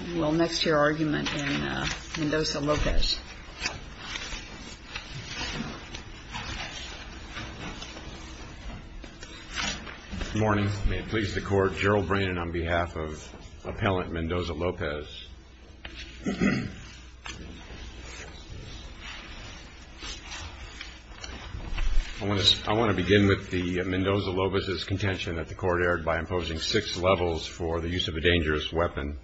Good morning. May it please the Court, Gerald Brannon on behalf of Appellant Mendoza-Lopez. I want to begin with Mendoza-Lopez's contention that the Court erred by imposing six levels for the use of a dangerous weapon.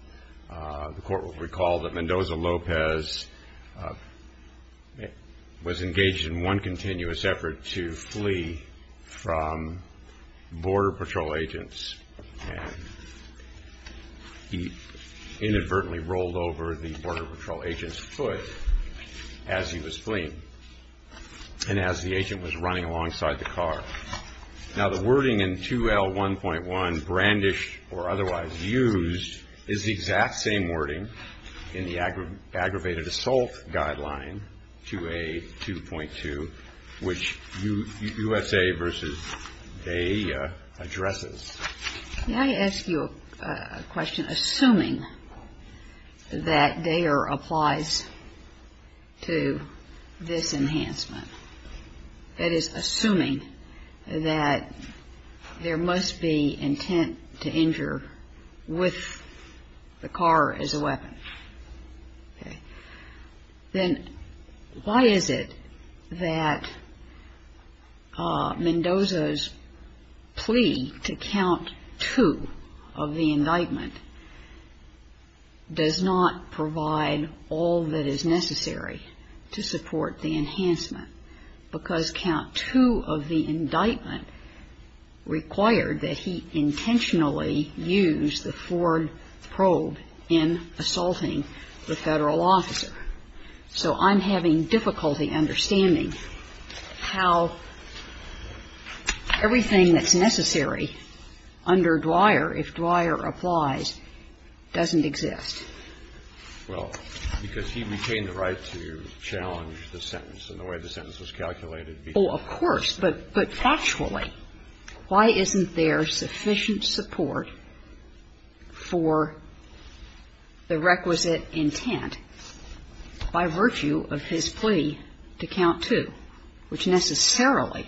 The Court will recall that Mendoza-Lopez was engaged in one continuous effort to flee from Border Patrol agents. He inadvertently rolled over the Border Patrol agent's foot as he was fleeing and as the agent was running alongside the or otherwise used is the exact same wording in the Aggravated Assault Guideline, 2A.2.2, which USA v. Bay addresses. May I ask you a question, assuming that Dayer applies to this enhancement? That is, assuming that there must be intent to injure with the car as a weapon. Then why is it that Mendoza's plea to count two of the indictment does not provide all that is necessary to support the indictment required that he intentionally use the Ford probe in assaulting the Federal officer? So I'm having difficulty understanding how everything that's necessary under Dwyer, if Dwyer applies, doesn't exist. Well, because he retained the right to challenge the sentence and the way the sentence was calculated. Oh, of course. But factually, why isn't there sufficient support for the requisite intent by virtue of his plea to count two, which necessarily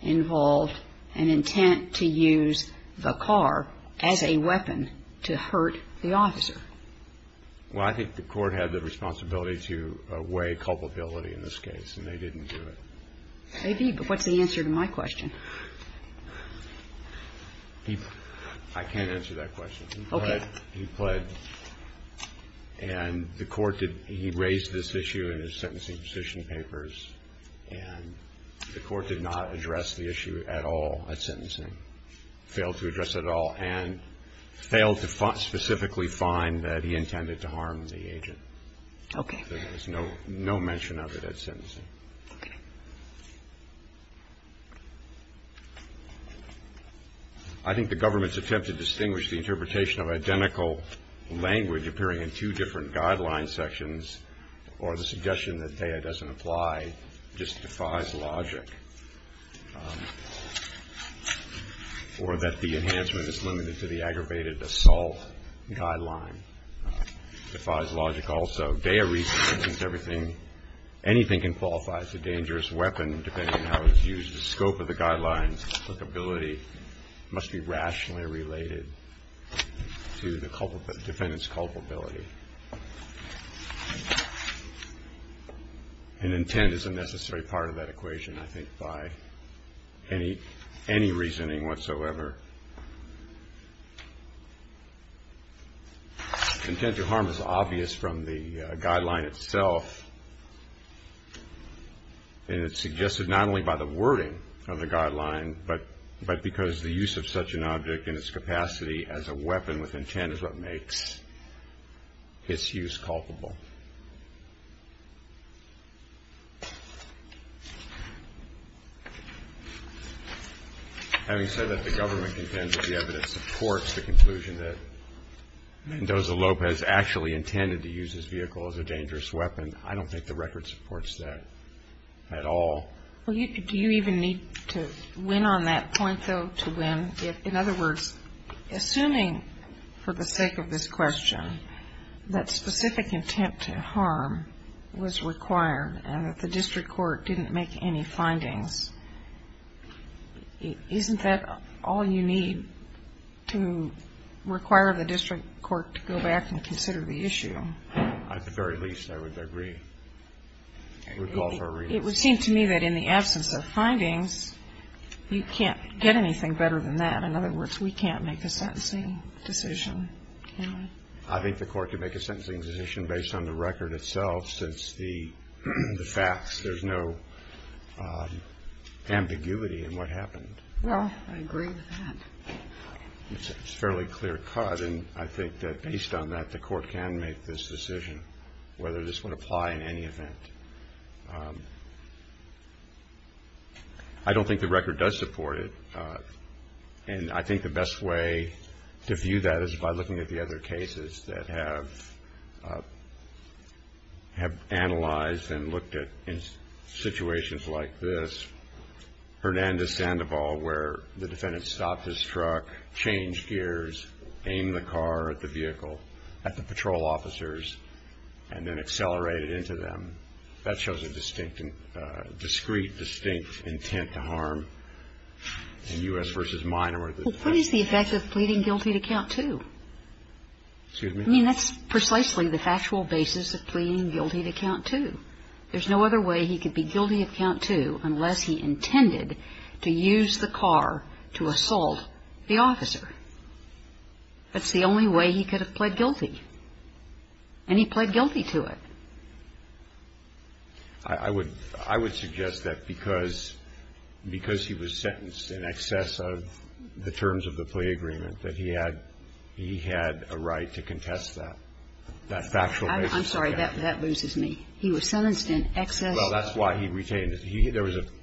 involved an intent to use the car as a weapon to hurt the officer? Well, I think the Court had the responsibility to weigh culpability in this case, and they didn't do it. Maybe, but what's the answer to my question? I can't answer that question. Okay. He pled. And the Court did. He raised this issue in his sentencing petition papers, and the Court did not address the issue at all at sentencing, failed to address at all, and failed to specifically find that he intended to harm the agent. Okay. There was no mention of it at sentencing. Okay. I think the government's attempt to distinguish the interpretation of identical language appearing in two different guideline sections or the suggestion that Teja doesn't apply just defies logic, or that the enhancement is limited to the aggravated assault guideline defies logic also. Dea recently thinks anything can qualify as a dangerous weapon depending on how it's used. The scope of the guidelines applicability must be rationally related to the defendant's culpability. And intent is a necessary part of that equation, I think, by any reasoning whatsoever. Intent to harm is obvious from the guideline itself, and it's suggested not only by the wording from the guideline, but because the use of such an object in its capacity as a weapon with intent is what makes its use culpable. Having said that, the government contends that the evidence supports the conclusion that Mendoza-Lopez actually intended to use his vehicle as a dangerous weapon. I don't think the record supports that at all. Well, do you even need to win on that point, though, to win? In other words, assuming for the sake of this question that specific intent to harm was required and that the district court didn't make any findings, isn't that all you need to require the district court to go back and consider the issue? At the very least, I would agree. It would seem to me that in the absence of findings, you can't get anything better than that. In other words, we can't make a sentencing decision. I think the court could make a sentencing decision based on the record itself, since the facts, there's no ambiguity in what happened. Well, I agree with that. It's a fairly clear cut, and I think that based on that, the court can make this decision, whether this would apply in any event. I don't think the record does support it, and I think the best way to view that is by looking at the other cases that have analyzed and looked at in situations like this. Hernandez-Sandoval, where the defendant stopped his truck, changed gears, aimed the car at the vehicle, at the patrol officers, and then accelerated into them. That shows a distinct, discreet, distinct intent to harm. In U.S. v. Minor, the defendant ---- Well, what is the effect of pleading guilty to count two? Excuse me? I mean, that's precisely the factual basis of pleading guilty to count two. There's no other way he could be guilty of count two unless he intended to use the car to assault the officer. That's the only way he could have pled guilty, and he pled guilty to it. I would ---- I would suggest that because he was sentenced in excess of the terms of the plea agreement, that he had ---- he had a right to contest that, that factual basis. I'm sorry. That loses me. He was sentenced in excess. Well, that's why he retained it.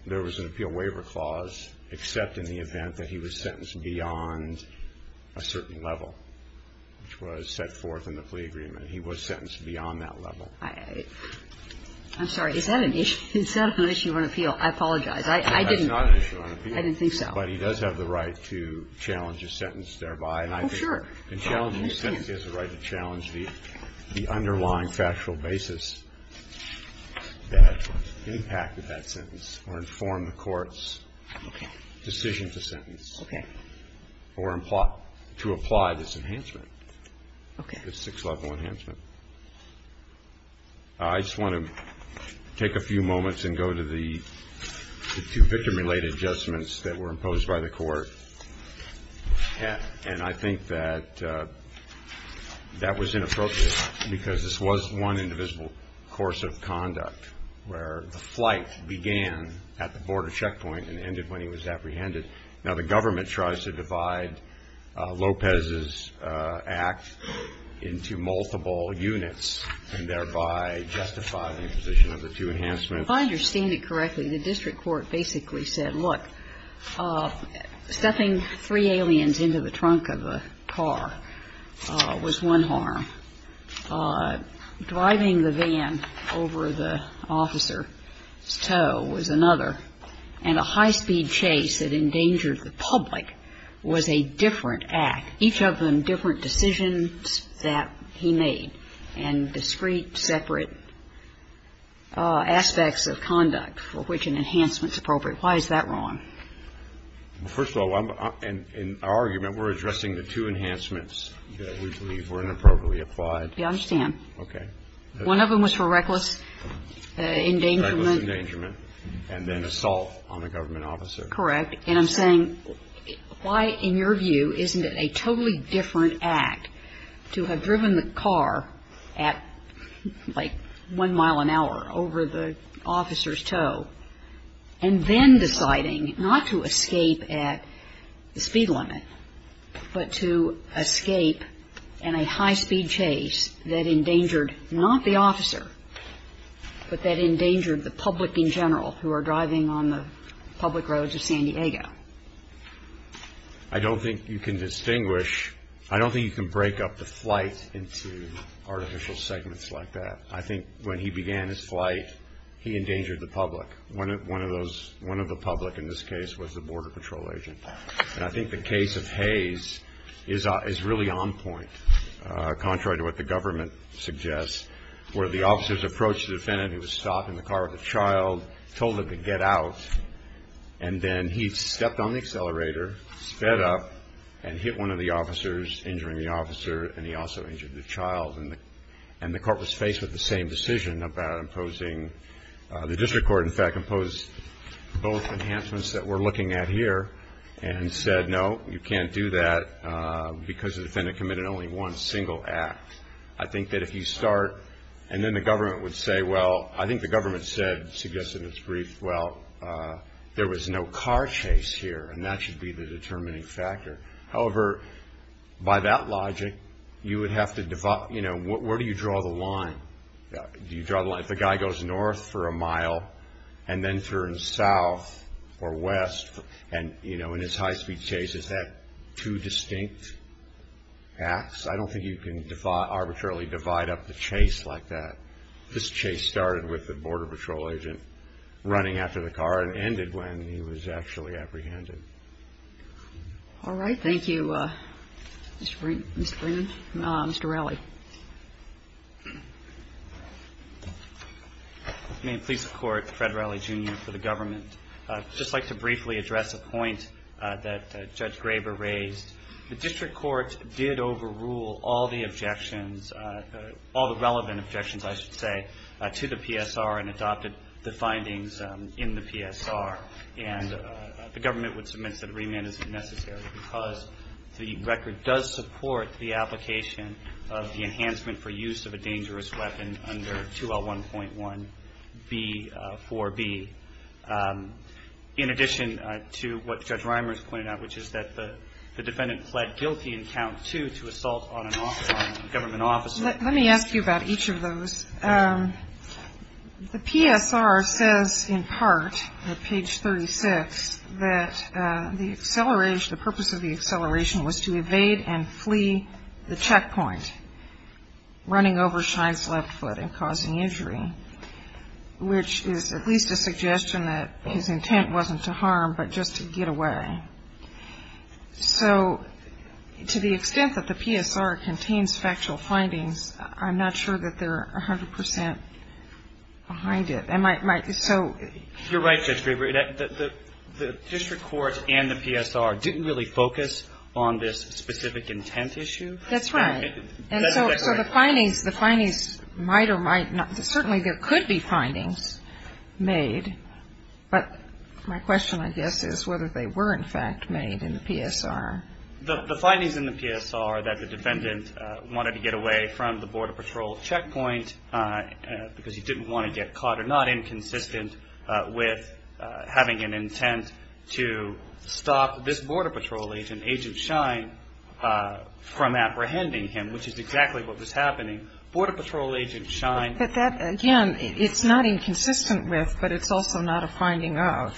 There was an appeal waiver clause except in the event that he was sentenced beyond a certain level, which was set forth in the plea agreement. He was sentenced beyond that level. I'm sorry. Is that an issue? Is that an issue on appeal? I apologize. I didn't ---- That's not an issue on appeal. I didn't think so. But he does have the right to challenge his sentence thereby, and I think ---- Well, sure. He can challenge his sentence. He has a right to challenge the underlying factual basis that impacted that sentence or informed the court's decision to sentence. Okay. Or to apply this enhancement. Okay. This six-level enhancement. I just want to take a few moments and go to the two victim-related adjustments that were imposed by the Court. And I think that that was inappropriate because this was one indivisible course of conduct where the flight began at the border checkpoint and ended when he was apprehended. Now, the government tries to divide Lopez's act into multiple units and thereby justify the imposition of the two enhancements. If I understand it correctly, the district court basically said, look, stuffing three aliens into the trunk of a car was one harm, driving the van over the officer's toe was another, and a high-speed chase that endangered the public was a different act, each of them different decisions that he made, and discrete, separate aspects of conduct for which an enhancement is appropriate. Why is that wrong? First of all, in our argument, we're addressing the two enhancements that we believe were inappropriately applied. Yes, I understand. One of them was for reckless endangerment. Reckless endangerment and then assault on a government officer. Correct. And I'm saying why, in your view, isn't it a totally different act to have driven the car at like one mile an hour over the officer's toe and then deciding not to escape at the speed limit, but to escape in a high-speed chase that endangered not the officer, but that endangered the public in general who are driving on the public roads of San Diego? I don't think you can distinguish. I don't think you can break up the flight into artificial segments like that. I think when he began his flight, he endangered the public. One of the public in this case was the border patrol agent, and I think the case of Hayes is really on point, contrary to what the government suggests, where the officers approached the defendant who was stopped in the car with a child, told him to get out, and then he stepped on the accelerator, sped up, and hit one of the officers, injuring the officer, and he also injured the child. And the court was faced with the same decision about imposing. The district court, in fact, imposed both enhancements that we're looking at here and said no, you can't do that because the defendant committed only one single act. I think that if you start, and then the government would say, well, I think the government suggested in its brief, well, there was no car chase here, and that should be the determining factor. However, by that logic, you would have to divide, you know, where do you draw the line? Do you draw the line if the guy goes north for a mile and then turns south or west, and, you know, in his high-speed chase, is that two distinct acts? I don't think you can arbitrarily divide up the chase like that. This chase started with the Border Patrol agent running after the car and ended when he was actually apprehended. All right. Thank you, Mr. Brennan. Mr. Riley. May it please the Court, Fred Riley, Jr., for the government. I'd just like to briefly address a point that Judge Graber raised. The district court did overrule all the objections, all the relevant objections, I should say, to the PSR and adopted the findings in the PSR, and the government would submit that a remand isn't necessary because the record does support the application of the enhancement for use of a dangerous weapon under 2L1.1B4B, in addition to what Judge Reimers pointed out, which is that the defendant pled guilty in count two to assault on a government officer. Let me ask you about each of those. The PSR says, in part, at page 36, that the purpose of the acceleration was to evade and flee the checkpoint, running over Schein's left foot and causing injury, which is at least a suggestion that his intent wasn't to harm but just to get away. So to the extent that the PSR contains factual findings, I'm not sure that they're 100% behind it. So you're right, Judge Graber. The district court and the PSR didn't really focus on this specific intent issue. That's right. And so the findings might or might not, certainly there could be findings made, but my question, I guess, is whether they were, in fact, made in the PSR. The findings in the PSR that the defendant wanted to get away from the Border Patrol checkpoint because he didn't want to get caught are not inconsistent with having an intent to stop this Border Patrol agent, Agent Schein, from apprehending him, which is exactly what was happening. Border Patrol Agent Schein --. But that, again, it's not inconsistent with, but it's also not a finding of.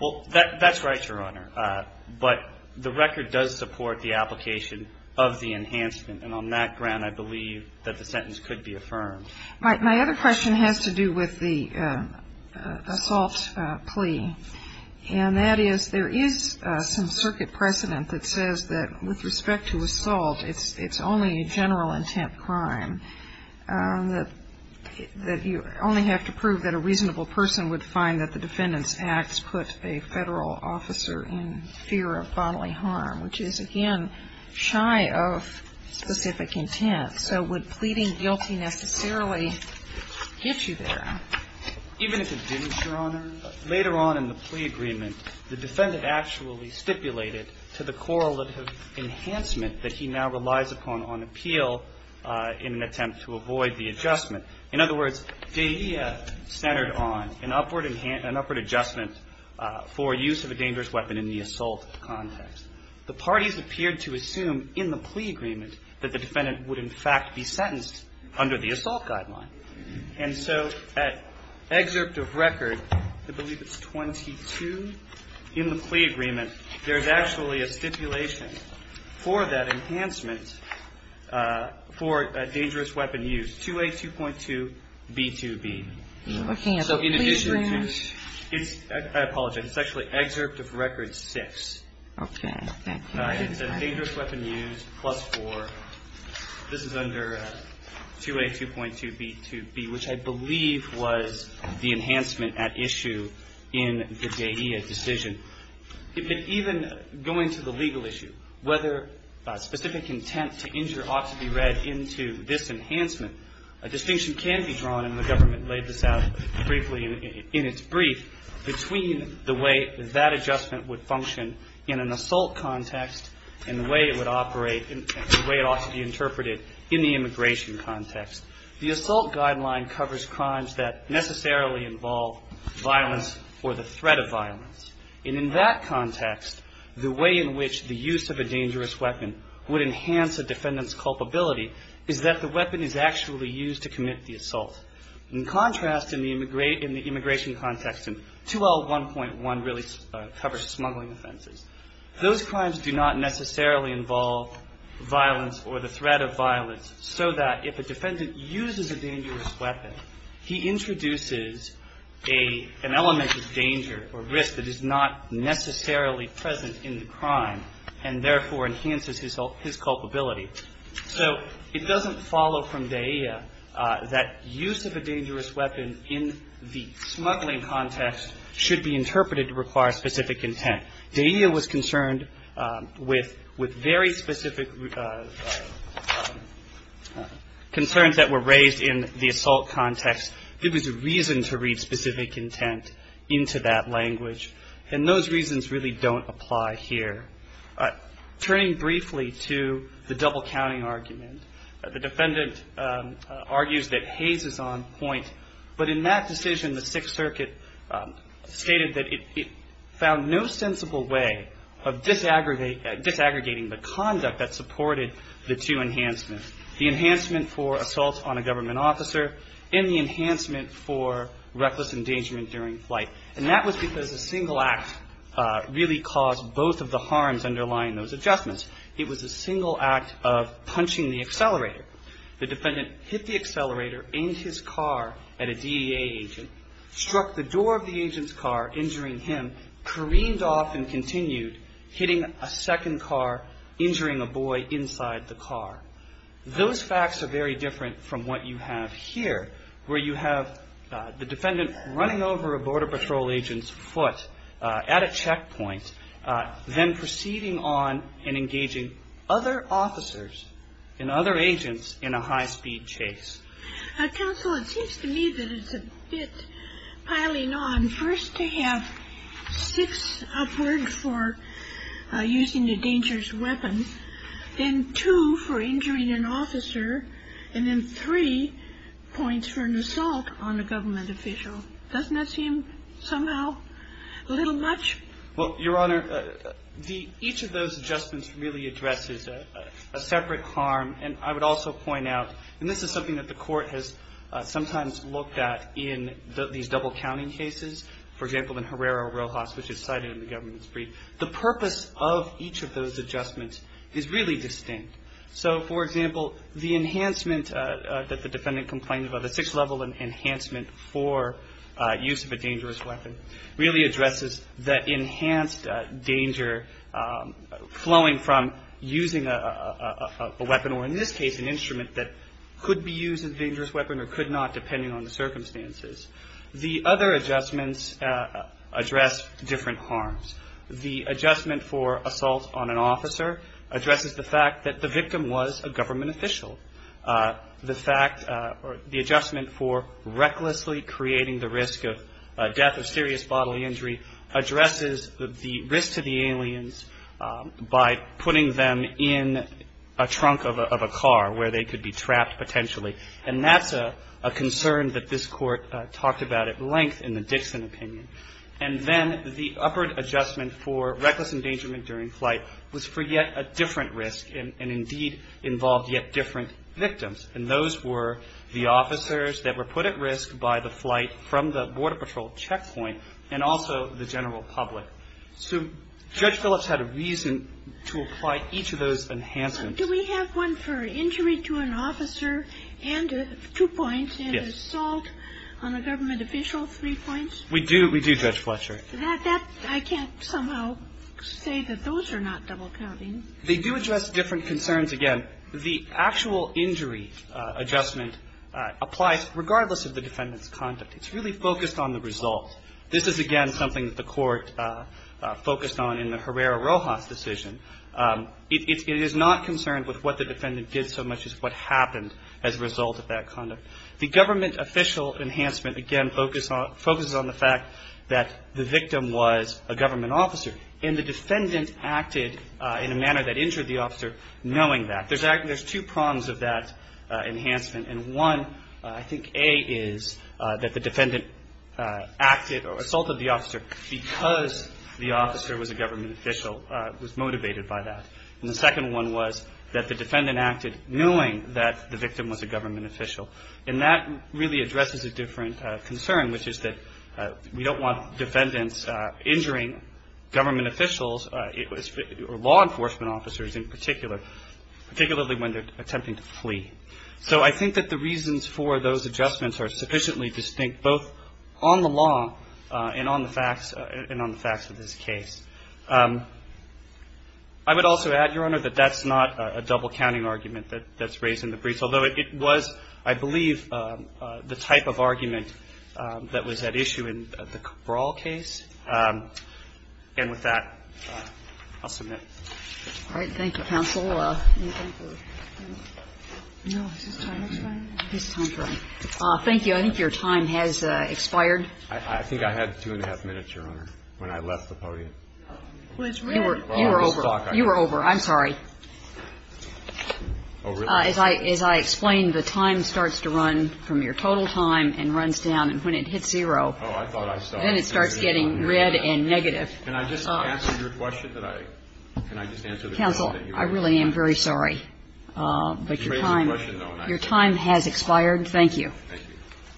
Well, that's right, Your Honor. But the record does support the application of the enhancement, and on that ground I believe that the sentence could be affirmed. My other question has to do with the assault plea, and that is there is some circuit precedent that says that with respect to assault, it's only a general intent crime, that you only have to prove that a reasonable person would find that the defendant's acts put a federal officer in fear of bodily harm, which is, again, shy of specific intent. So would pleading guilty necessarily get you there? Even if it didn't, Your Honor, later on in the plea agreement, the defendant actually stipulated to the correlative enhancement that he now relies upon on appeal in an attempt to avoid the adjustment. In other words, DEA centered on an upward adjustment for use of a dangerous weapon in the assault context. The parties appeared to assume in the plea agreement that the defendant would, in fact, be sentenced under the assault guideline. And so at excerpt of record, I believe it's 22, in the plea agreement, there's actually a stipulation for that enhancement for a dangerous weapon use, 2A.2.2.B.2.B. Looking at the plea agreement. I apologize. It's actually excerpt of record 6. Okay. Thank you. It's a dangerous weapon use plus 4. This is under 2A.2.2.B.2.B., which I believe was the enhancement at issue in the DEA decision. Even going to the legal issue, whether specific intent to injure ought to be read into this enhancement, a distinction can be drawn, and the government laid this out briefly in its brief, between the way that adjustment would function in an assault context and the way it would operate, the way it ought to be interpreted in the immigration context. The assault guideline covers crimes that necessarily involve violence or the threat of violence. And in that context, the way in which the use of a dangerous weapon would enhance a defendant's culpability is that the weapon is actually used to commit the assault. In contrast, in the immigration context, and 2L.1.1 really covers smuggling offenses, those crimes do not necessarily involve violence or the threat of violence, so that if a defendant uses a dangerous weapon, he introduces an element of danger or risk that is not necessarily present in the crime and, therefore, enhances his culpability. So it doesn't follow from DEA that use of a dangerous weapon in the smuggling context should be interpreted to require specific intent. DEA was concerned with very specific concerns that were raised in the assault context. There was a reason to read specific intent into that language, and those reasons really don't apply here. Turning briefly to the double-counting argument, the defendant argues that Hays is on point, but in that decision, the Sixth Circuit stated that it found no sensible way of disaggregating the conduct that supported the two enhancements, the enhancement for assault on a government officer and the enhancement for reckless endangerment during flight. And that was because a single act really caused both of the harms underlying those adjustments. It was a single act of punching the accelerator. The defendant hit the accelerator in his car at a DEA agent, struck the door of the agent's car, injuring him, careened off and continued, hitting a second car, injuring a boy inside the car. Those facts are very different from what you have here, where you have the defendant running over a Border Patrol agent's foot at a checkpoint, then proceeding on and engaging other officers and other agents in a high-speed chase. Counsel, it seems to me that it's a bit piling on. First, to have six upward for using a dangerous weapon, then two for injuring an official, doesn't that seem somehow a little much? Well, Your Honor, each of those adjustments really addresses a separate harm. And I would also point out, and this is something that the Court has sometimes looked at in these double-counting cases, for example, in Herrera-Rojas, which is cited in the government's brief, the purpose of each of those adjustments is really distinct. So, for example, the enhancement that the defendant complained about, the six-level enhancement for use of a dangerous weapon, really addresses that enhanced danger flowing from using a weapon, or in this case, an instrument that could be used as a dangerous weapon or could not, depending on the circumstances. The other adjustments address different harms. The adjustment for assault on an officer addresses the fact that the victim was a government official. The fact or the adjustment for recklessly creating the risk of death or serious bodily injury addresses the risk to the aliens by putting them in a trunk of a car where they could be trapped potentially. And that's a concern that this Court talked about at length in the Dixon opinion. And then the upward adjustment for reckless endangerment during flight was for yet a different risk and indeed involved yet different victims. And those were the officers that were put at risk by the flight from the Border Patrol checkpoint and also the general public. So Judge Phillips had a reason to apply each of those enhancements. Kagan. Do we have one for injury to an officer and two points and assault on a government official, three points? We do, Judge Fletcher. I can't somehow say that those are not double counting. They do address different concerns. Again, the actual injury adjustment applies regardless of the defendant's conduct. It's really focused on the result. This is, again, something that the Court focused on in the Herrera-Rojas decision. It is not concerned with what the defendant did so much as what happened as a result of that conduct. The government official enhancement, again, focuses on the fact that the victim was a government officer and the defendant acted in a manner that injured the officer knowing that. There's two prongs of that enhancement. And one, I think, A, is that the defendant acted or assaulted the officer because the officer was a government official, was motivated by that. And the second one was that the defendant acted knowing that the victim was a government official. And that really addresses a different concern, which is that we don't want defendants injuring government officials or law enforcement officers in particular, particularly when they're attempting to flee. So I think that the reasons for those adjustments are sufficiently distinct both on the law and on the facts of this case. I would also add, Your Honor, that that's not a double counting argument that's raised in the briefs, although it was, I believe, the type of argument that was at issue in the Cabral case. And with that, I'll submit. All right. Thank you, counsel. Is this time expiring? Thank you. I think your time has expired. I think I had two and a half minutes, Your Honor, when I left the podium. You were over. You were over. I'm sorry. As I explained, the time starts to run from your total time and runs down. And when it hits zero, then it starts getting red and negative. Can I just answer your question? Counsel, I really am very sorry. But your time has expired. Thank you. Thank you.